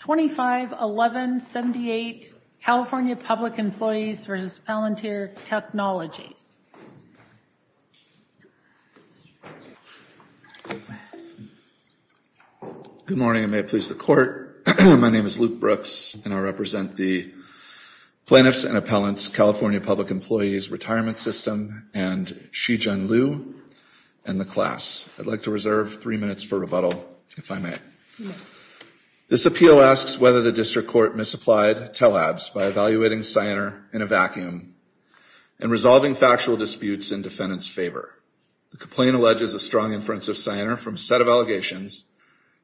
25-11-78, California Public Employees v. Palantir Technologies. Good morning, and may it please the court. My name is Luke Brooks, and I represent the Plaintiffs and Appellants California Public Employees Retirement System and Shijian Liu and the class. I'd like to reserve three minutes for rebuttal, if I may. This appeal asks whether the district court misapplied TELABS by evaluating Cyanar in a vacuum and resolving factual disputes in defendant's favor. The complaint alleges a strong inference of Cyanar from a set of allegations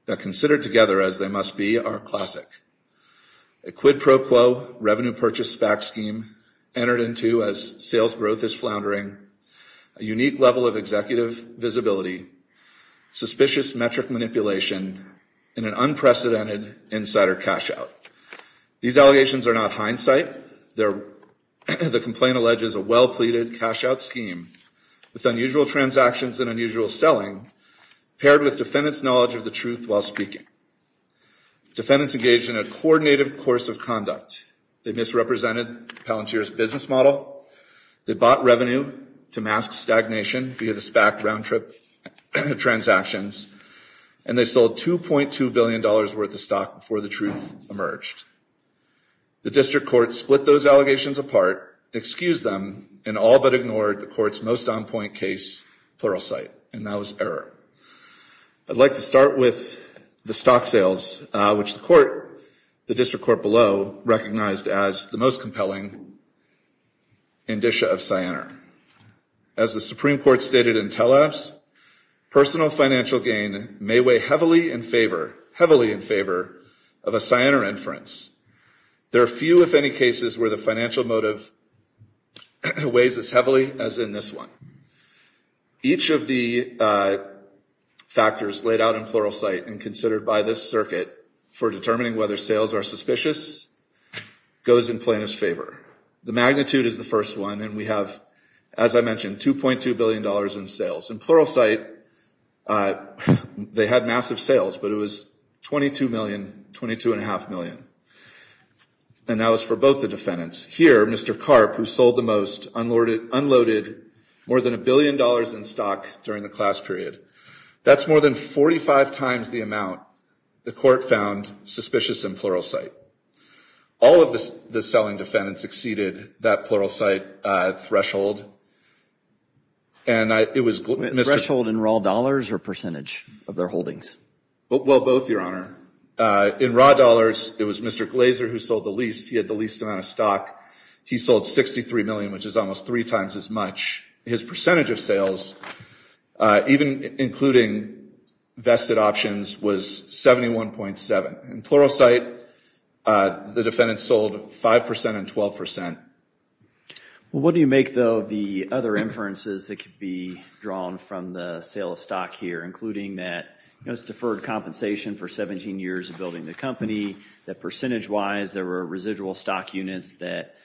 that, considered together as they must be, are classic. A quid pro quo revenue purchase SPAC scheme entered into as sales growth is floundering, a unique level of executive visibility, suspicious metric manipulation, and an unprecedented insider cash-out. These allegations are not hindsight. The complaint alleges a well-pleaded cash-out scheme with unusual transactions and unusual selling paired with defendant's knowledge of the truth while speaking. Defendants engaged in a coordinated course of conduct. They misrepresented Palantir's business model. They bought revenue to mask stagnation via the SPAC round-trip transactions, and they sold $2.2 billion worth of stock before the truth emerged. The district court split those allegations apart, excused them, and all but ignored the court's most on-point case pluralsight, and that was error. I'd like to start with the stock sales, which the court, the district court below, recognized as the most compelling indicia of Cyanar. As the Supreme Court stated in Telabs, personal financial gain may weigh heavily in favor, heavily in favor, of a Cyanar inference. There are few, if any, cases where the financial motive weighs as heavily as in this one. Each of the factors laid out in plural site and considered by this circuit for determining whether sales are suspicious goes in plaintiff's favor. The magnitude is the first one, and then we have, as I mentioned, $2.2 billion in sales. In plural site, they had massive sales, but it was 22 million, 22 and a half million, and that was for both the defendants. Here, Mr. Karp, who sold the most, unloaded more than a billion dollars in stock during the class period. That's more than 45 times the amount the court found suspicious in plural site. All of the selling defendants exceeded that plural site threshold. And it was Mr. Threshold in raw dollars or percentage of their holdings? Well, both, Your Honor. In raw dollars, it was Mr. Glazer who sold the least. He had the least amount of stock. He sold 63 million, which is almost three times as much. His percentage of sales, even including vested options, was 71.7. In plural site, the defendants sold 5% and 12%. What do you make, though, of the other inferences that could be drawn from the sale of stock here, including that it was deferred compensation for 17 years of building the company, that percentage-wise, there were residual stock units that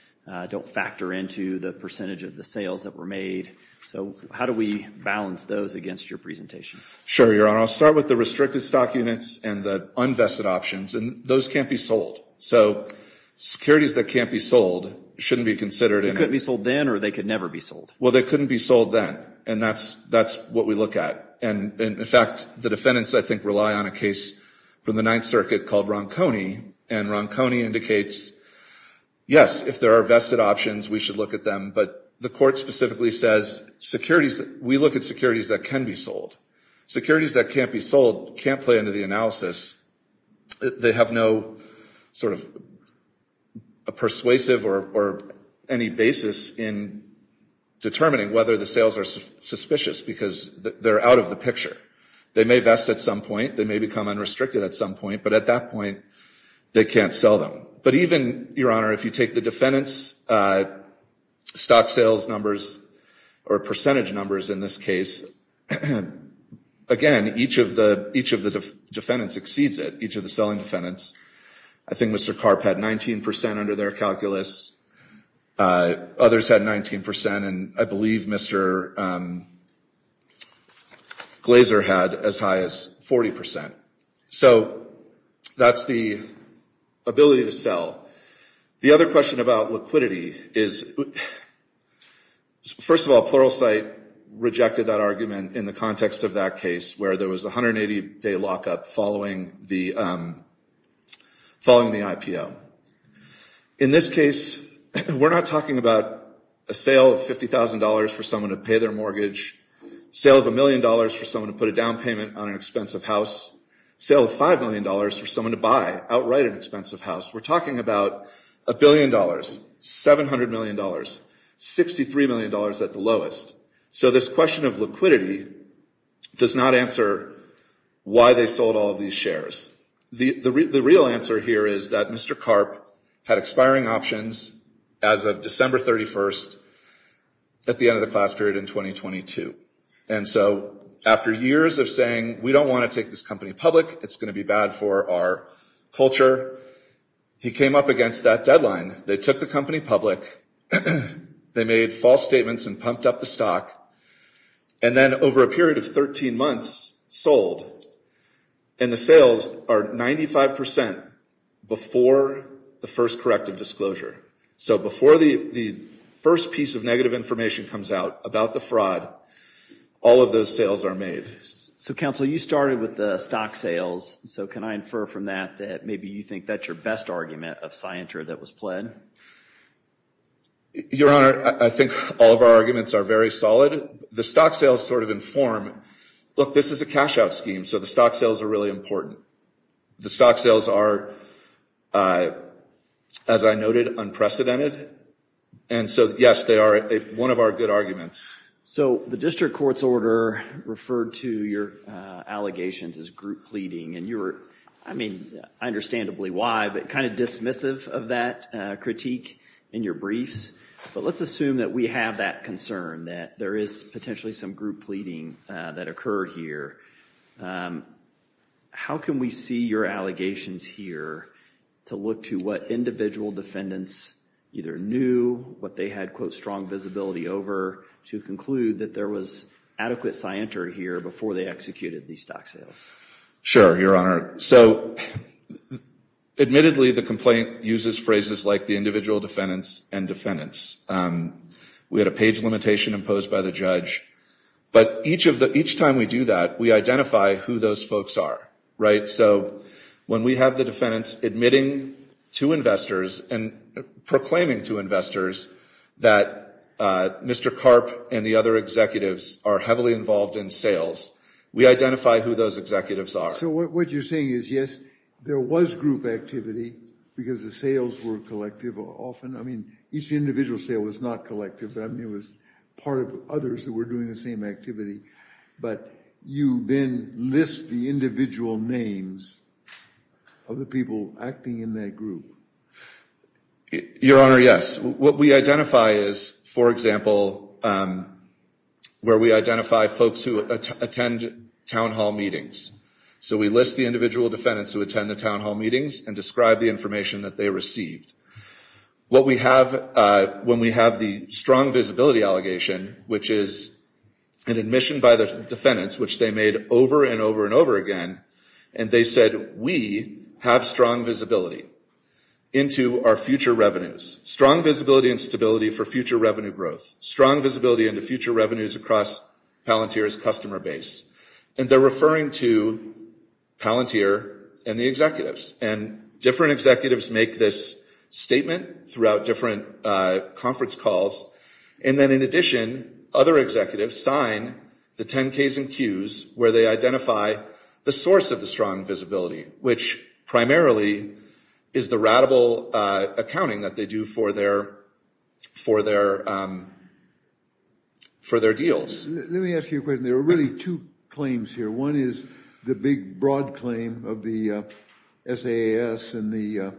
don't factor into the percentage of the sales that were made. So how do we balance those against your presentation? Sure, Your Honor. I'll start with the restricted stock units and the unvested options, and those can't be sold. So securities that can't be sold shouldn't be considered. They couldn't be sold then or they could never be sold? Well, they couldn't be sold then, and that's what we look at. And in fact, the defendants, I think, rely on a case from the Ninth Circuit called Ronconi, and Ronconi indicates, yes, if there are vested options, we should look at them, but the court specifically says we look at securities that can be sold. Securities that can't be sold can't play into the analysis. They have no sort of persuasive or any basis in determining whether the sales are suspicious because they're out of the picture. They may vest at some point, they may become unrestricted at some point, but at that point, they can't sell them. But even, Your Honor, if you take the defendants' stock sales numbers or percentage numbers in this case, again, each of the defendants exceeds it, each of the selling defendants. I think Mr. Karp had 19% under their calculus. Others had 19%, and I believe Mr. Glazer had as high as 40%. So that's the ability to sell. The other question about liquidity is, first of all, Pluralsight rejected that argument in the context of that case where there was a 180-day lockup following the IPO. In this case, we're not talking about a sale of $50,000 for someone to pay their mortgage, sale of a million dollars for someone to put a down payment on an expensive house, sale of $5 million for someone to buy outright an expensive house. We're talking about a billion dollars, $700 million, $63 million at the lowest. So this question of liquidity does not answer why they sold all of these shares. The real answer here is that Mr. Karp had expiring options as of December 31st at the end of the class period in 2022. And so, after years of saying, we don't want to take this company public, it's going to be bad for our culture, he came up against that deadline. They took the company public, they made false statements and pumped up the stock, and then over a period of 13 months, sold. And the sales are 95% before the first corrective disclosure. So before the first piece of negative information comes out about the fraud, all of those sales are made. So counsel, you started with the stock sales. So can I infer from that, that maybe you think that's your best argument of scienter that was pled? Your Honor, I think all of our arguments are very solid. The stock sales sort of inform, look, this is a cash out scheme, so the stock sales are really important. The stock sales are, as I noted, unprecedented. And so, yes, they are one of our good arguments. So the district court's order referred to your allegations as group pleading, and you were, I mean, understandably why, but kind of dismissive of that critique in your briefs. But let's assume that we have that concern, that there is potentially some group pleading that occurred here. How can we see your allegations here to look to what individual defendants either knew, what they had, quote, strong visibility over, to conclude that there was adequate scienter here before they executed these stock sales? Sure, Your Honor. So admittedly, the complaint uses phrases like the individual defendants and defendants. We had a page limitation imposed by the judge. But each time we do that, we identify who those folks are, right? So when we have the defendants admitting to investors and proclaiming to investors that Mr. Karp and the other executives are heavily involved in sales, we identify who those executives are. So what you're saying is, yes, there was group activity because the sales were collective often. I mean, each individual sale was not collective, but I mean, it was part of others that were doing the same activity. But you then list the individual names of the people acting in that group. Your Honor, yes. What we identify is, for example, where we identify folks who attend town hall meetings. So we list the individual defendants who attend the town hall meetings and describe the information that they received. What we have when we have the strong visibility allegation, which is an admission by the defendants, which they made over and over and over again, and they said, we have strong visibility into our future revenues. Strong visibility and stability for future revenue growth. Strong visibility into future revenues across Palantir's customer base. And they're referring to Palantir and the executives. And different executives make this statement throughout different conference calls. And then in addition, other executives sign the 10 Ks and Qs where they identify the source of the strong visibility, which primarily is the ratable accounting that they do for their deals. Let me ask you a question. There are really two claims here. One is the big, broad claim of the SAS and the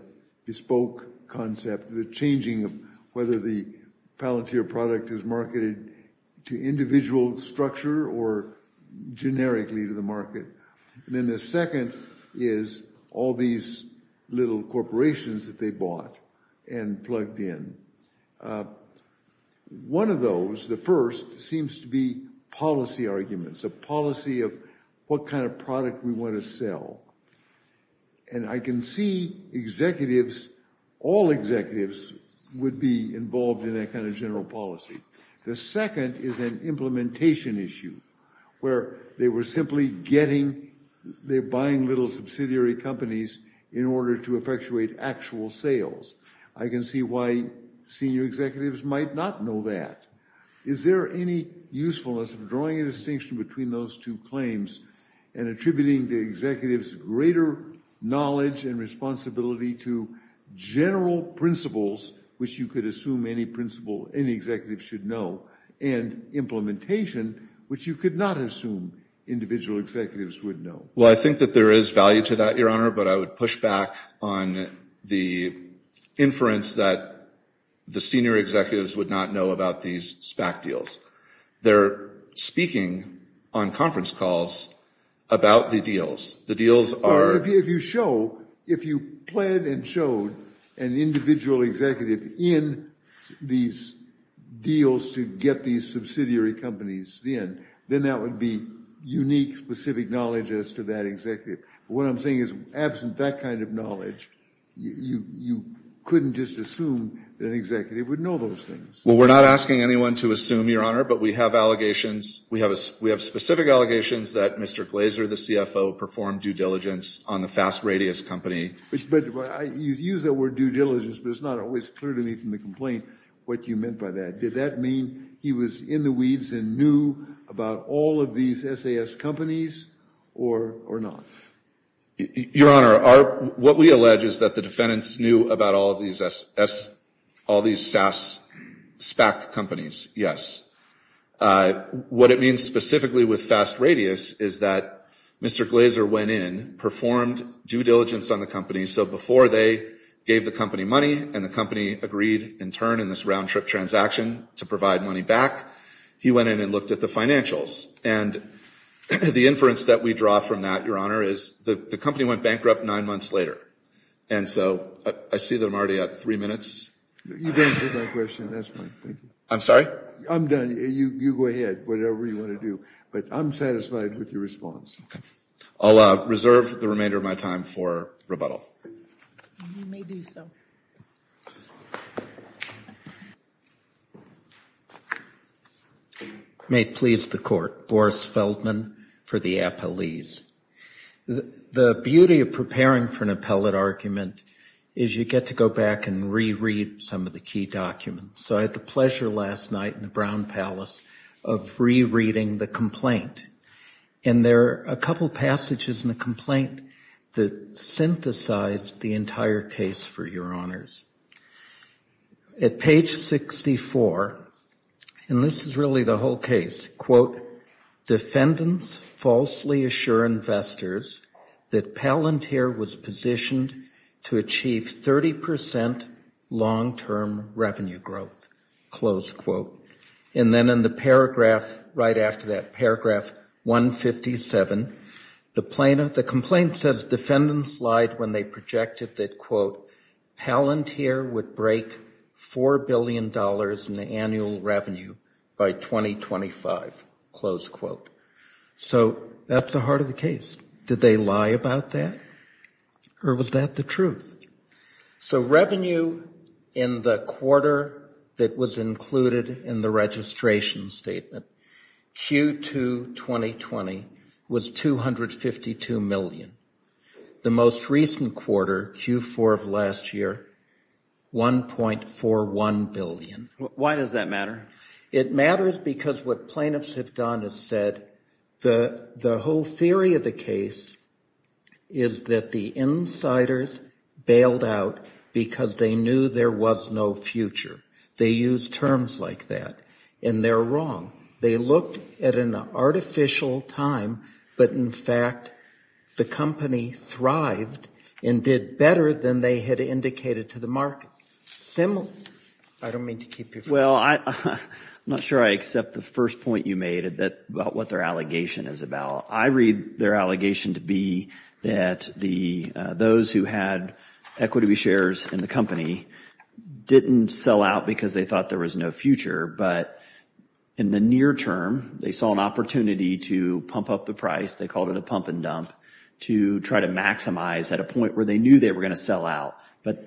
bespoke concept, the changing of whether the Palantir product is marketed to individual structure or generically to the market. And then the second is all these little corporations that they bought and plugged in. One of those, the first, seems to be policy arguments, a policy of what kind of product we want to sell. And I can see executives, all executives, would be involved in that kind of general policy. The second is an implementation issue where they were simply getting, they're buying little subsidiary companies in order to effectuate actual sales. I can see why senior executives might not know that. Is there any usefulness of drawing a distinction between those two claims and attributing the executives greater knowledge and responsibility to general principles, which you could assume any principal, any executive should know, and implementation, which you could not assume individual executives would know? Well, I think that there is value to that, Your Honor, but I would push back on the inference that the senior executives would not know about these SPAC deals. They're speaking on conference calls about the deals. The deals are- Well, if you show, if you planned and showed an individual executive in these deals to get these subsidiary companies in, then that would be unique, specific knowledge as to that executive. What I'm saying is, absent that kind of knowledge, you couldn't just assume that an executive would know those things. Well, we're not asking anyone to assume, Your Honor, but we have allegations, we have specific allegations that Mr. Glazer, the CFO, performed due diligence on the Fast Radius company. But you use that word due diligence, but it's not always clear to me from the complaint what you meant by that. Did that mean he was in the weeds and knew about all of these SAS companies or not? Your Honor, what we allege is that the defendants knew about all these SAS, all these SAS SPAC companies, yes. What it means specifically with Fast Radius is that Mr. Glazer went in, performed due diligence on the company, so before they gave the company money and the company agreed in turn in this round-trip transaction to provide money back, he went in and looked at the financials. And the inference that we draw from that, Your Honor, is the company went bankrupt nine months later. And so, I see that I'm already at three minutes. You've answered my question, that's fine, thank you. I'm sorry? I'm done, you go ahead, whatever you wanna do. But I'm satisfied with your response. I'll reserve the remainder of my time for rebuttal. You may do so. May it please the court, Boris Feldman for the appellees. The beauty of preparing for an appellate argument is you get to go back and reread some of the key documents. So I had the pleasure last night in the Brown Palace of rereading the complaint. And there are a couple passages in the complaint that synthesized the entire case for Your Honors. At page 64, and this is really the whole case, quote, defendants falsely assure investors that Palantir was positioned to achieve 30% long-term revenue growth, close quote. And then in the paragraph right after that, paragraph 157, the complaint says defendants lied when they projected that, quote, Palantir would break $4 billion in annual revenue by 2025, close quote. So that's the heart of the case. Did they lie about that? Or was that the truth? So revenue in the quarter that was included in the registration statement. Q2 2020 was 252 million. The most recent quarter, Q4 of last year, 1.41 billion. Why does that matter? It matters because what plaintiffs have done is said the whole theory of the case is that the insiders bailed out because they knew there was no future. They used terms like that, and they're wrong. They looked at an artificial time, but in fact, the company thrived and did better than they had indicated to the market. Similarly, I don't mean to keep you from. Well, I'm not sure I accept the first point you made about what their allegation is about. I read their allegation to be that those who had equity shares in the company didn't sell out because they thought there was no future, but in the near term, they saw an opportunity to pump up the price, they called it a pump and dump, to try to maximize at a point where they knew they were gonna sell out, but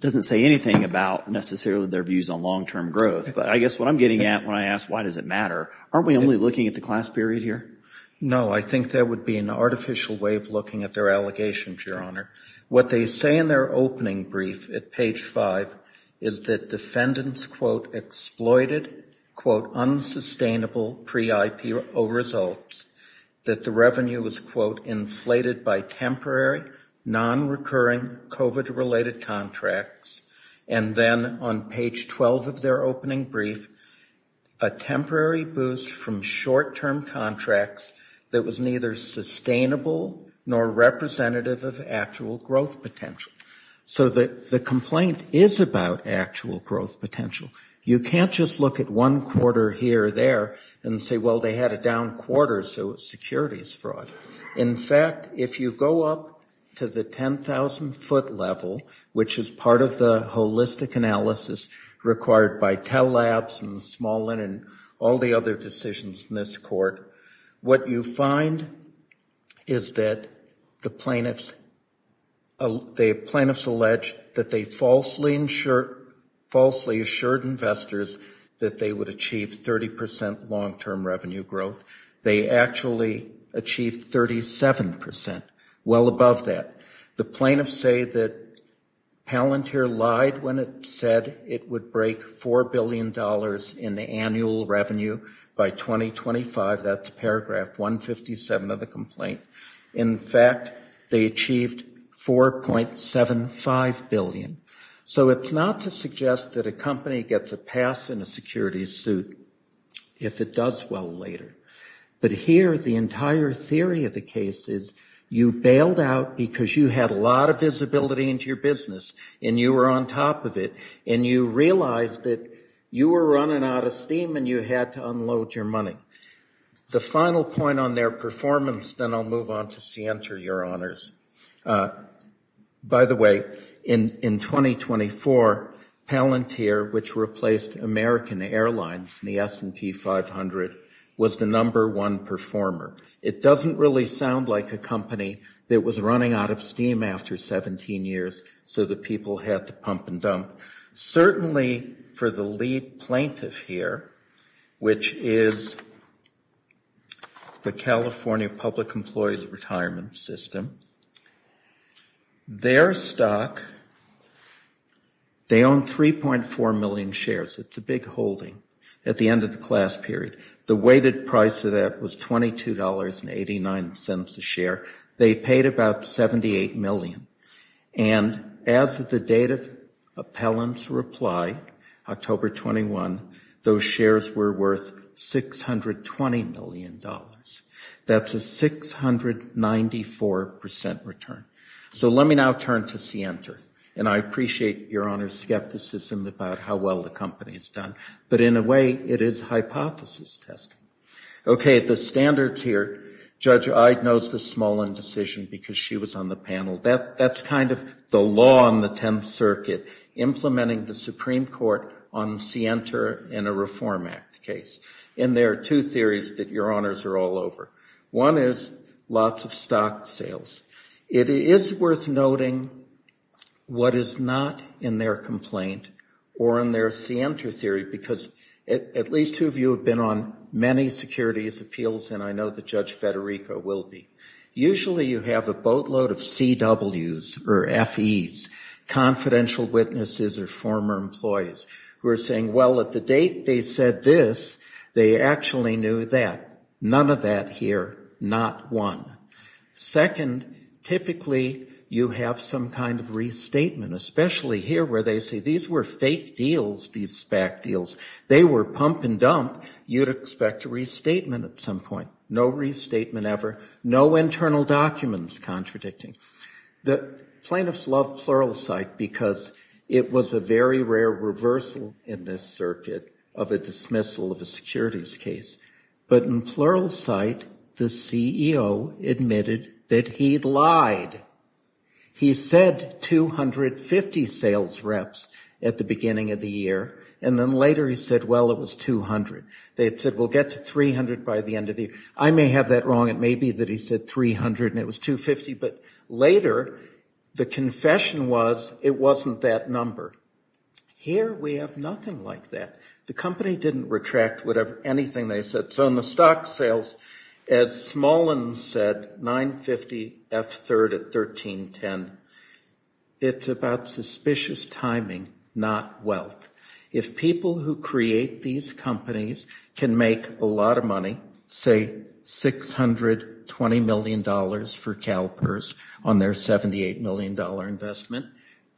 doesn't say anything about necessarily their views on long-term growth. But I guess what I'm getting at when I ask why does it matter, aren't we only looking at the class period here? No, I think there would be an artificial way of looking at their allegations, Your Honor. What they say in their opening brief at page five is that defendants, quote, exploited, quote, unsustainable pre-IPO results, that the revenue was, quote, inflated by temporary, non-recurring COVID-related contracts, and then on page 12 of their opening brief, a temporary boost from short-term contracts that was neither sustainable nor representative of actual growth potential. So the complaint is about actual growth potential. You can't just look at one quarter here or there and say, well, they had a down quarter, so security is fraught. In fact, if you go up to the 10,000-foot level, which is part of the holistic analysis required by Tell Labs and Smolin and all the other decisions in this court, what you find is that the plaintiffs allege that they falsely assured investors that they would achieve 30% long-term revenue growth. They actually achieved 37%, well above that. The plaintiffs say that Palantir lied when it said it would break $4 billion in the annual revenue by 2025. That's paragraph 157 of the complaint. In fact, they achieved $4.75 billion. So it's not to suggest that a company gets a pass in a security suit if it does well later. But here, the entire theory of the case is you bailed out because you had a lot of visibility into your business and you were on top of it, and you realized that you were running out of steam and you had to unload your money. The final point on their performance, then I'll move on to Sienter, Your Honors. By the way, in 2024, Palantir, which replaced American Airlines and the S&P 500, was the number one performer. It doesn't really sound like a company that was running out of steam after 17 years so that people had to pump and dump. Certainly for the lead plaintiff here, which is the California Public Employees Retirement System, their stock, they own 3.4 million shares. It's a big holding at the end of the class period. The weighted price of that was $22.89 a share. They paid about 78 million. And as of the date of Palantir's reply, October 21, those shares were worth $620 million. That's a 694% return. So let me now turn to Sienter. And I appreciate Your Honor's skepticism about how well the company has done, but in a way, it is hypothesis testing. Okay, the standards here, Judge Ide knows the Smolin decision because she was on the panel. That's kind of the law on the 10th Circuit, implementing the Supreme Court on Sienter in a Reform Act case. And there are two theories that Your Honors are all over. One is lots of stock sales. It is worth noting what is not in their complaint or in their Sienter theory, because at least two of you have been on many securities appeals, and I know that Judge Federico will be. Usually you have a boatload of CWs or FEs, confidential witnesses or former employees, who are saying, well, at the date they said this, they actually knew that. None of that here, not one. Second, typically you have some kind of restatement, especially here where they say, these were fake deals, these SPAC deals. They were pump and dump. You'd expect a restatement at some point. No restatement ever. No internal documents contradicting. The plaintiffs love pluralsight because it was a very rare reversal in this circuit of a dismissal of a securities case. But in pluralsight, the CEO admitted that he'd lied. He said 250 sales reps at the beginning of the year, and then later he said, well, it was 200. They had said, we'll get to 300 by the end of the year. I may have that wrong. It may be that he said 300 and it was 250, but later the confession was, it wasn't that number. Here we have nothing like that. The company didn't retract anything they said. So in the stock sales, as Smolin said, 950 F third at 1310, it's about suspicious timing, not wealth. If people who create these companies can make a lot of money, say $620 million for CalPERS, on their $78 million investment,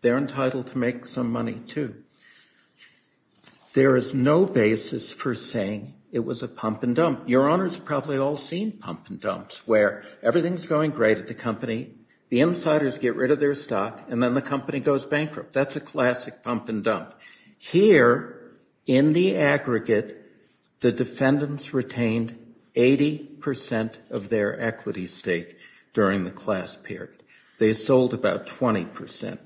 they're entitled to make some money too. There is no basis for saying it was a pump and dump. Your honors have probably all seen pump and dumps where everything's going great at the company, the insiders get rid of their stock, and then the company goes bankrupt. That's a classic pump and dump. Here, in the aggregate, the defendants retained 80% of their equity stake during the class period. They sold about 20%.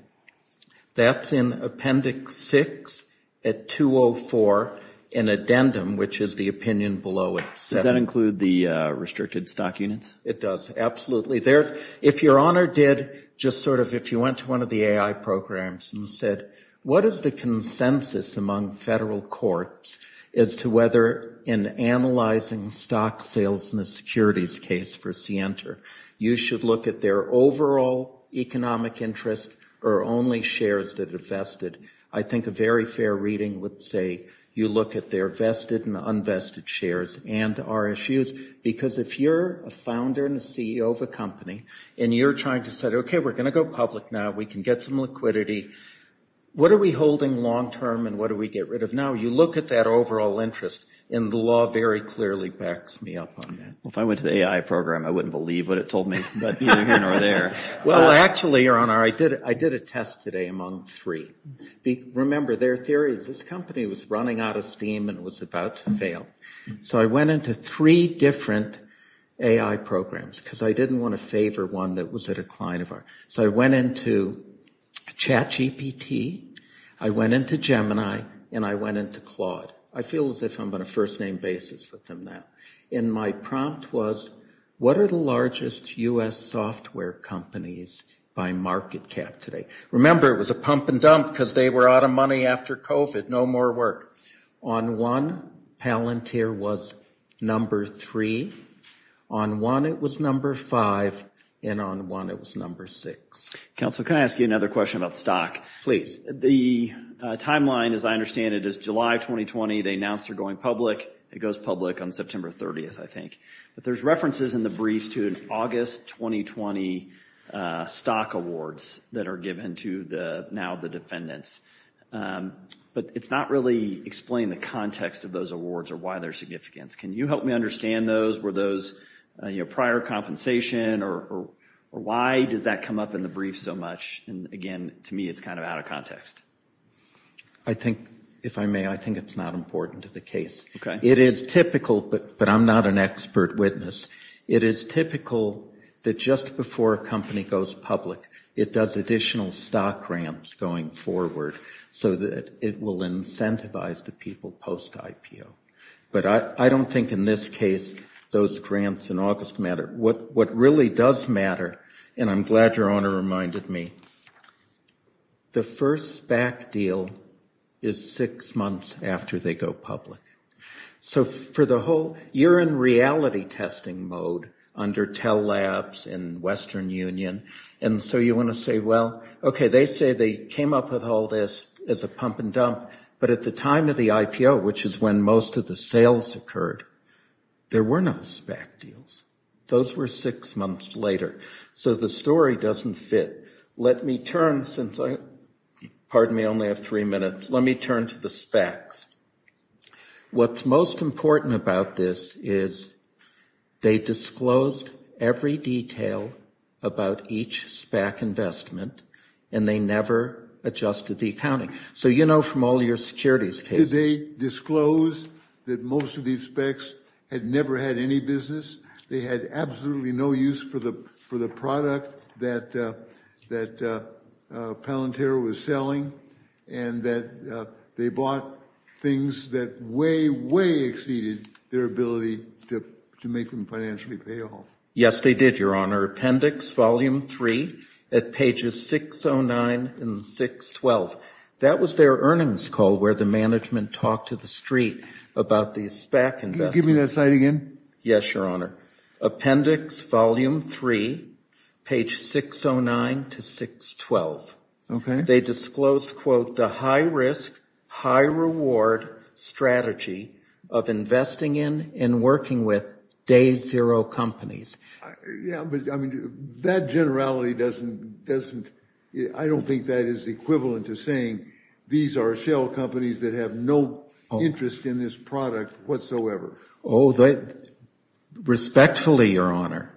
That's in appendix six at 204 in addendum, which is the opinion below it. Does that include the restricted stock units? It does, absolutely. If your honor did just sort of, if you went to one of the AI programs and said, what is the consensus among federal courts as to whether in analyzing stock sales in the securities case for Sienter, you should look at their overall economic interest or only shares that are vested? I think a very fair reading would say you look at their vested and unvested shares and RSUs, because if you're a founder and a CEO of a company, and you're trying to say, okay, we're gonna go public now, we can get some liquidity, what are we holding long-term and what do we get rid of now? You look at that overall interest and the law very clearly backs me up on that. Well, if I went to the AI program, I wouldn't believe what it told me, but either here or there. Well, actually, your honor, I did a test today among three. Remember, their theory is this company was running out of steam and was about to fail. So I went into three different AI programs, because I didn't want to favor one that was at a client of ours. So I went into CHAT GPT, I went into Gemini, and I went into Claude. I feel as if I'm on a first name basis with them now. And my prompt was, what are the largest US software companies by market cap today? Remember, it was a pump and dump because they were out of money after COVID, no more work. On one, Palantir was number three. On one, it was number five. And on one, it was number six. Counselor, can I ask you another question about stock? Please. The timeline, as I understand it, is July 2020. They announced they're going public. It goes public on September 30th, I think. But there's references in the brief to an August 2020 stock awards that are given to now the defendants. But it's not really explained the context of those awards or why their significance. Can you help me understand those? Were those prior compensation? Or why does that come up in the brief so much? And again, to me, it's kind of out of context. I think, if I may, I think it's not important to the case. It is typical, but I'm not an expert witness. It is typical that just before a company goes public, it does additional stock grants going forward so that it will incentivize the people post IPO. But I don't think in this case those grants in August matter. What really does matter, and I'm glad your Honor reminded me, the first SPAC deal is six months after they go public. So for the whole, you're in reality testing mode under Tell Labs and Western Union. And so you want to say, well, okay, they say they came up with all this as a pump and dump. But at the time of the IPO, which is when most of the sales occurred, there were no SPAC deals. Those were six months later. So the story doesn't fit. Let me turn, since I, pardon me, I only have three minutes. Let me turn to the SPACs. What's most important about this is they disclosed every detail about each SPAC investment, and they never adjusted the accounting. So you know from all your securities cases. Did they disclose that most of these SPACs had never had any business? They had absolutely no use for the product that Palantir was selling, and that they bought things that way, way exceeded their ability to make them financially pay off. Yes, they did, your Honor. Appendix volume three at pages 609 and 612. That was their earnings call where the management talked to the street about the SPAC investment. Can you give me that slide again? Yes, your Honor. Appendix volume three, page 609 to 612. They disclosed, quote, the high risk, high reward strategy of investing in and working with day zero companies. Yeah, but I mean, that generality doesn't, I don't think that is equivalent to saying these are shell companies that have no interest in this product whatsoever. Oh, respectfully, your Honor,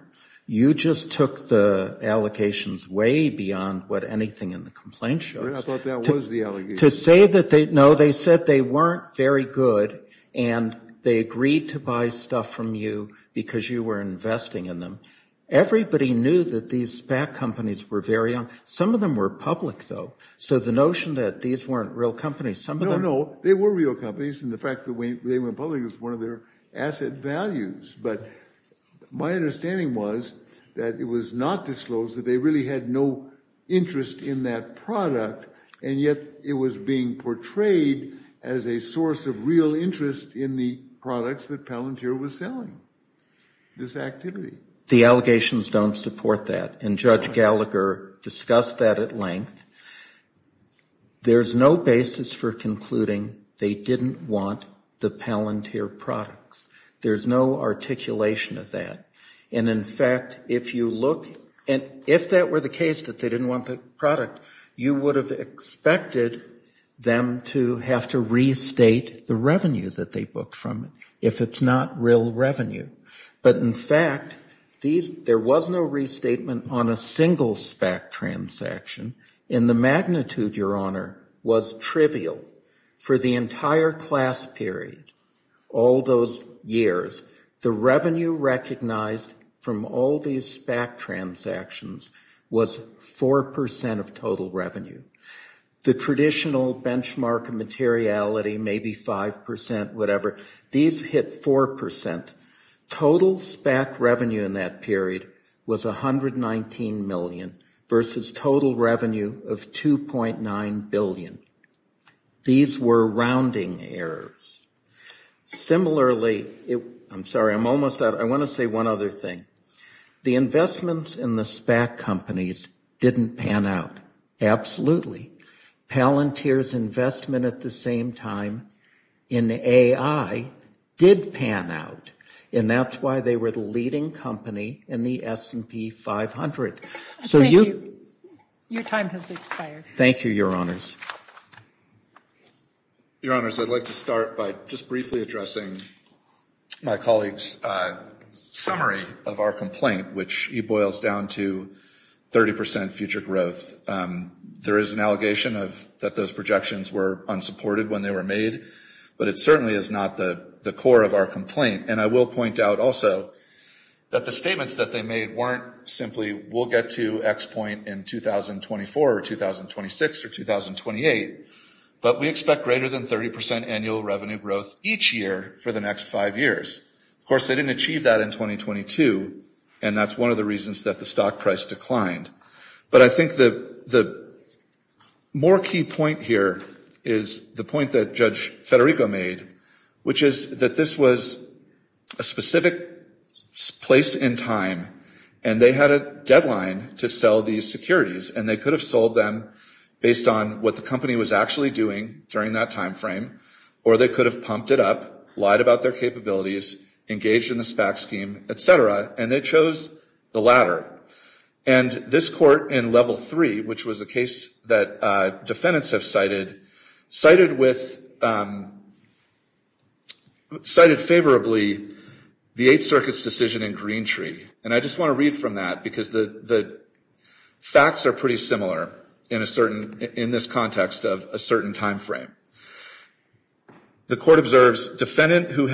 you just took the allocations way beyond what anything in the complaint shows. I thought that was the allegation. To say that they, no, they said they weren't very good, and they agreed to buy stuff from you because you were investing in them. Everybody knew that these SPAC companies were very young. Some of them were public, though. So the notion that these weren't real companies, some of them. No, no, they were real companies, and the fact that they went public was one of their asset values. But my understanding was that it was not disclosed that they really had no interest in that product, and yet it was being portrayed as a source of real interest in the products that Palantir was selling, this activity. The allegations don't support that, and Judge Gallagher discussed that at length. There's no basis for concluding they didn't want the Palantir products. There's no articulation of that. And in fact, if you look, and if that were the case, that they didn't want the product, you would have expected them to have to restate the revenue that they booked from it if it's not real revenue. But in fact, there was no restatement on a single SPAC transaction, and the magnitude, Your Honor, was trivial for the entire class period, all those years. The revenue recognized from all these SPAC transactions was 4% of total revenue. The traditional benchmark materiality, maybe 5%, whatever, these hit 4%. Total SPAC revenue in that period was 119 million versus total revenue of 2.9 billion. These were rounding errors. Similarly, I'm sorry, I'm almost out. I want to say one other thing. The investments in the SPAC companies didn't pan out. Absolutely. Palantir's investment at the same time in AI did pan out, and that's why they were the leading company in the S&P 500. So you- Your time has expired. Thank you, Your Honors. Your Honors, I'd like to start by just briefly addressing my colleague's summary of our complaint, which he boils down to 30% future growth. There is an allegation that those projections were unsupported when they were made, but it certainly is not the core of our complaint. And I will point out also that the statements that they made weren't simply, we'll get to X point in 2024 or 2026 or 2028, but we expect greater than 30% annual revenue growth each year for the next five years. Of course, they didn't achieve that in 2022, and that's one of the reasons that the stock price declined. But I think the more key point here is the point that Judge Federico made, which is that this was a specific place in time, and they had a deadline to sell these securities, and they could have sold them based on what the company was actually doing during that timeframe, or they could have pumped it up, lied about their capabilities, engaged in the SPAC scheme, et cetera, and they chose the latter. And this court in level three, which was a case that defendants have cited, cited favorably the Eighth Circuit's decision in Greentree. And I just want to read from that because the facts are pretty similar in this context of a certain timeframe. The court observes, defendant who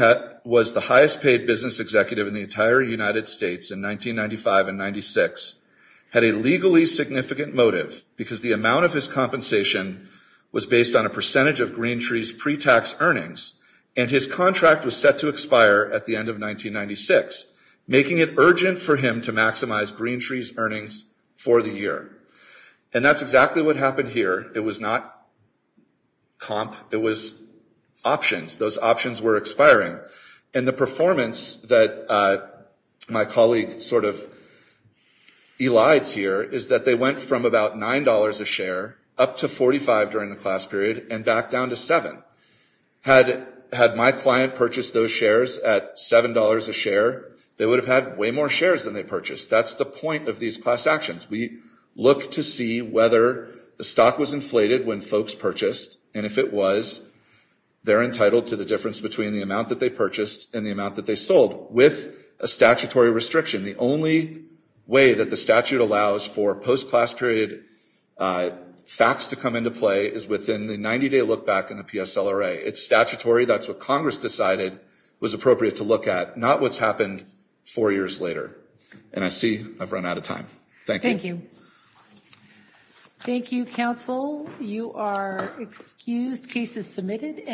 was the highest paid business executive in the entire United States in 1995 and 96 had a legally significant motive because the amount of his compensation was based on a percentage of Greentree's pre-tax earnings, and his contract was set to expire at the end of 1996, making it urgent for him to maximize Greentree's earnings for the year. And that's exactly what happened here. It was not comp, it was options. Those options were expiring. And the performance that my colleague sort of elides here is that they went from about $9 a share up to 45 during the class period, and back down to seven. Had my client purchased those shares at $7 a share, they would have had way more shares than they purchased. That's the point of these class actions. We look to see whether the stock was inflated when folks purchased, and if it was, they're entitled to the difference between the amount that they purchased and the amount that they sold, with a statutory restriction. The only way that the statute allows for post-class period facts to come into play is within the 90-day look back in the PSLRA. It's statutory, that's what Congress decided was appropriate to look at, not what's happened four years later. And I see I've run out of time. Thank you. Thank you. Thank you, Council. You are excused, case is submitted.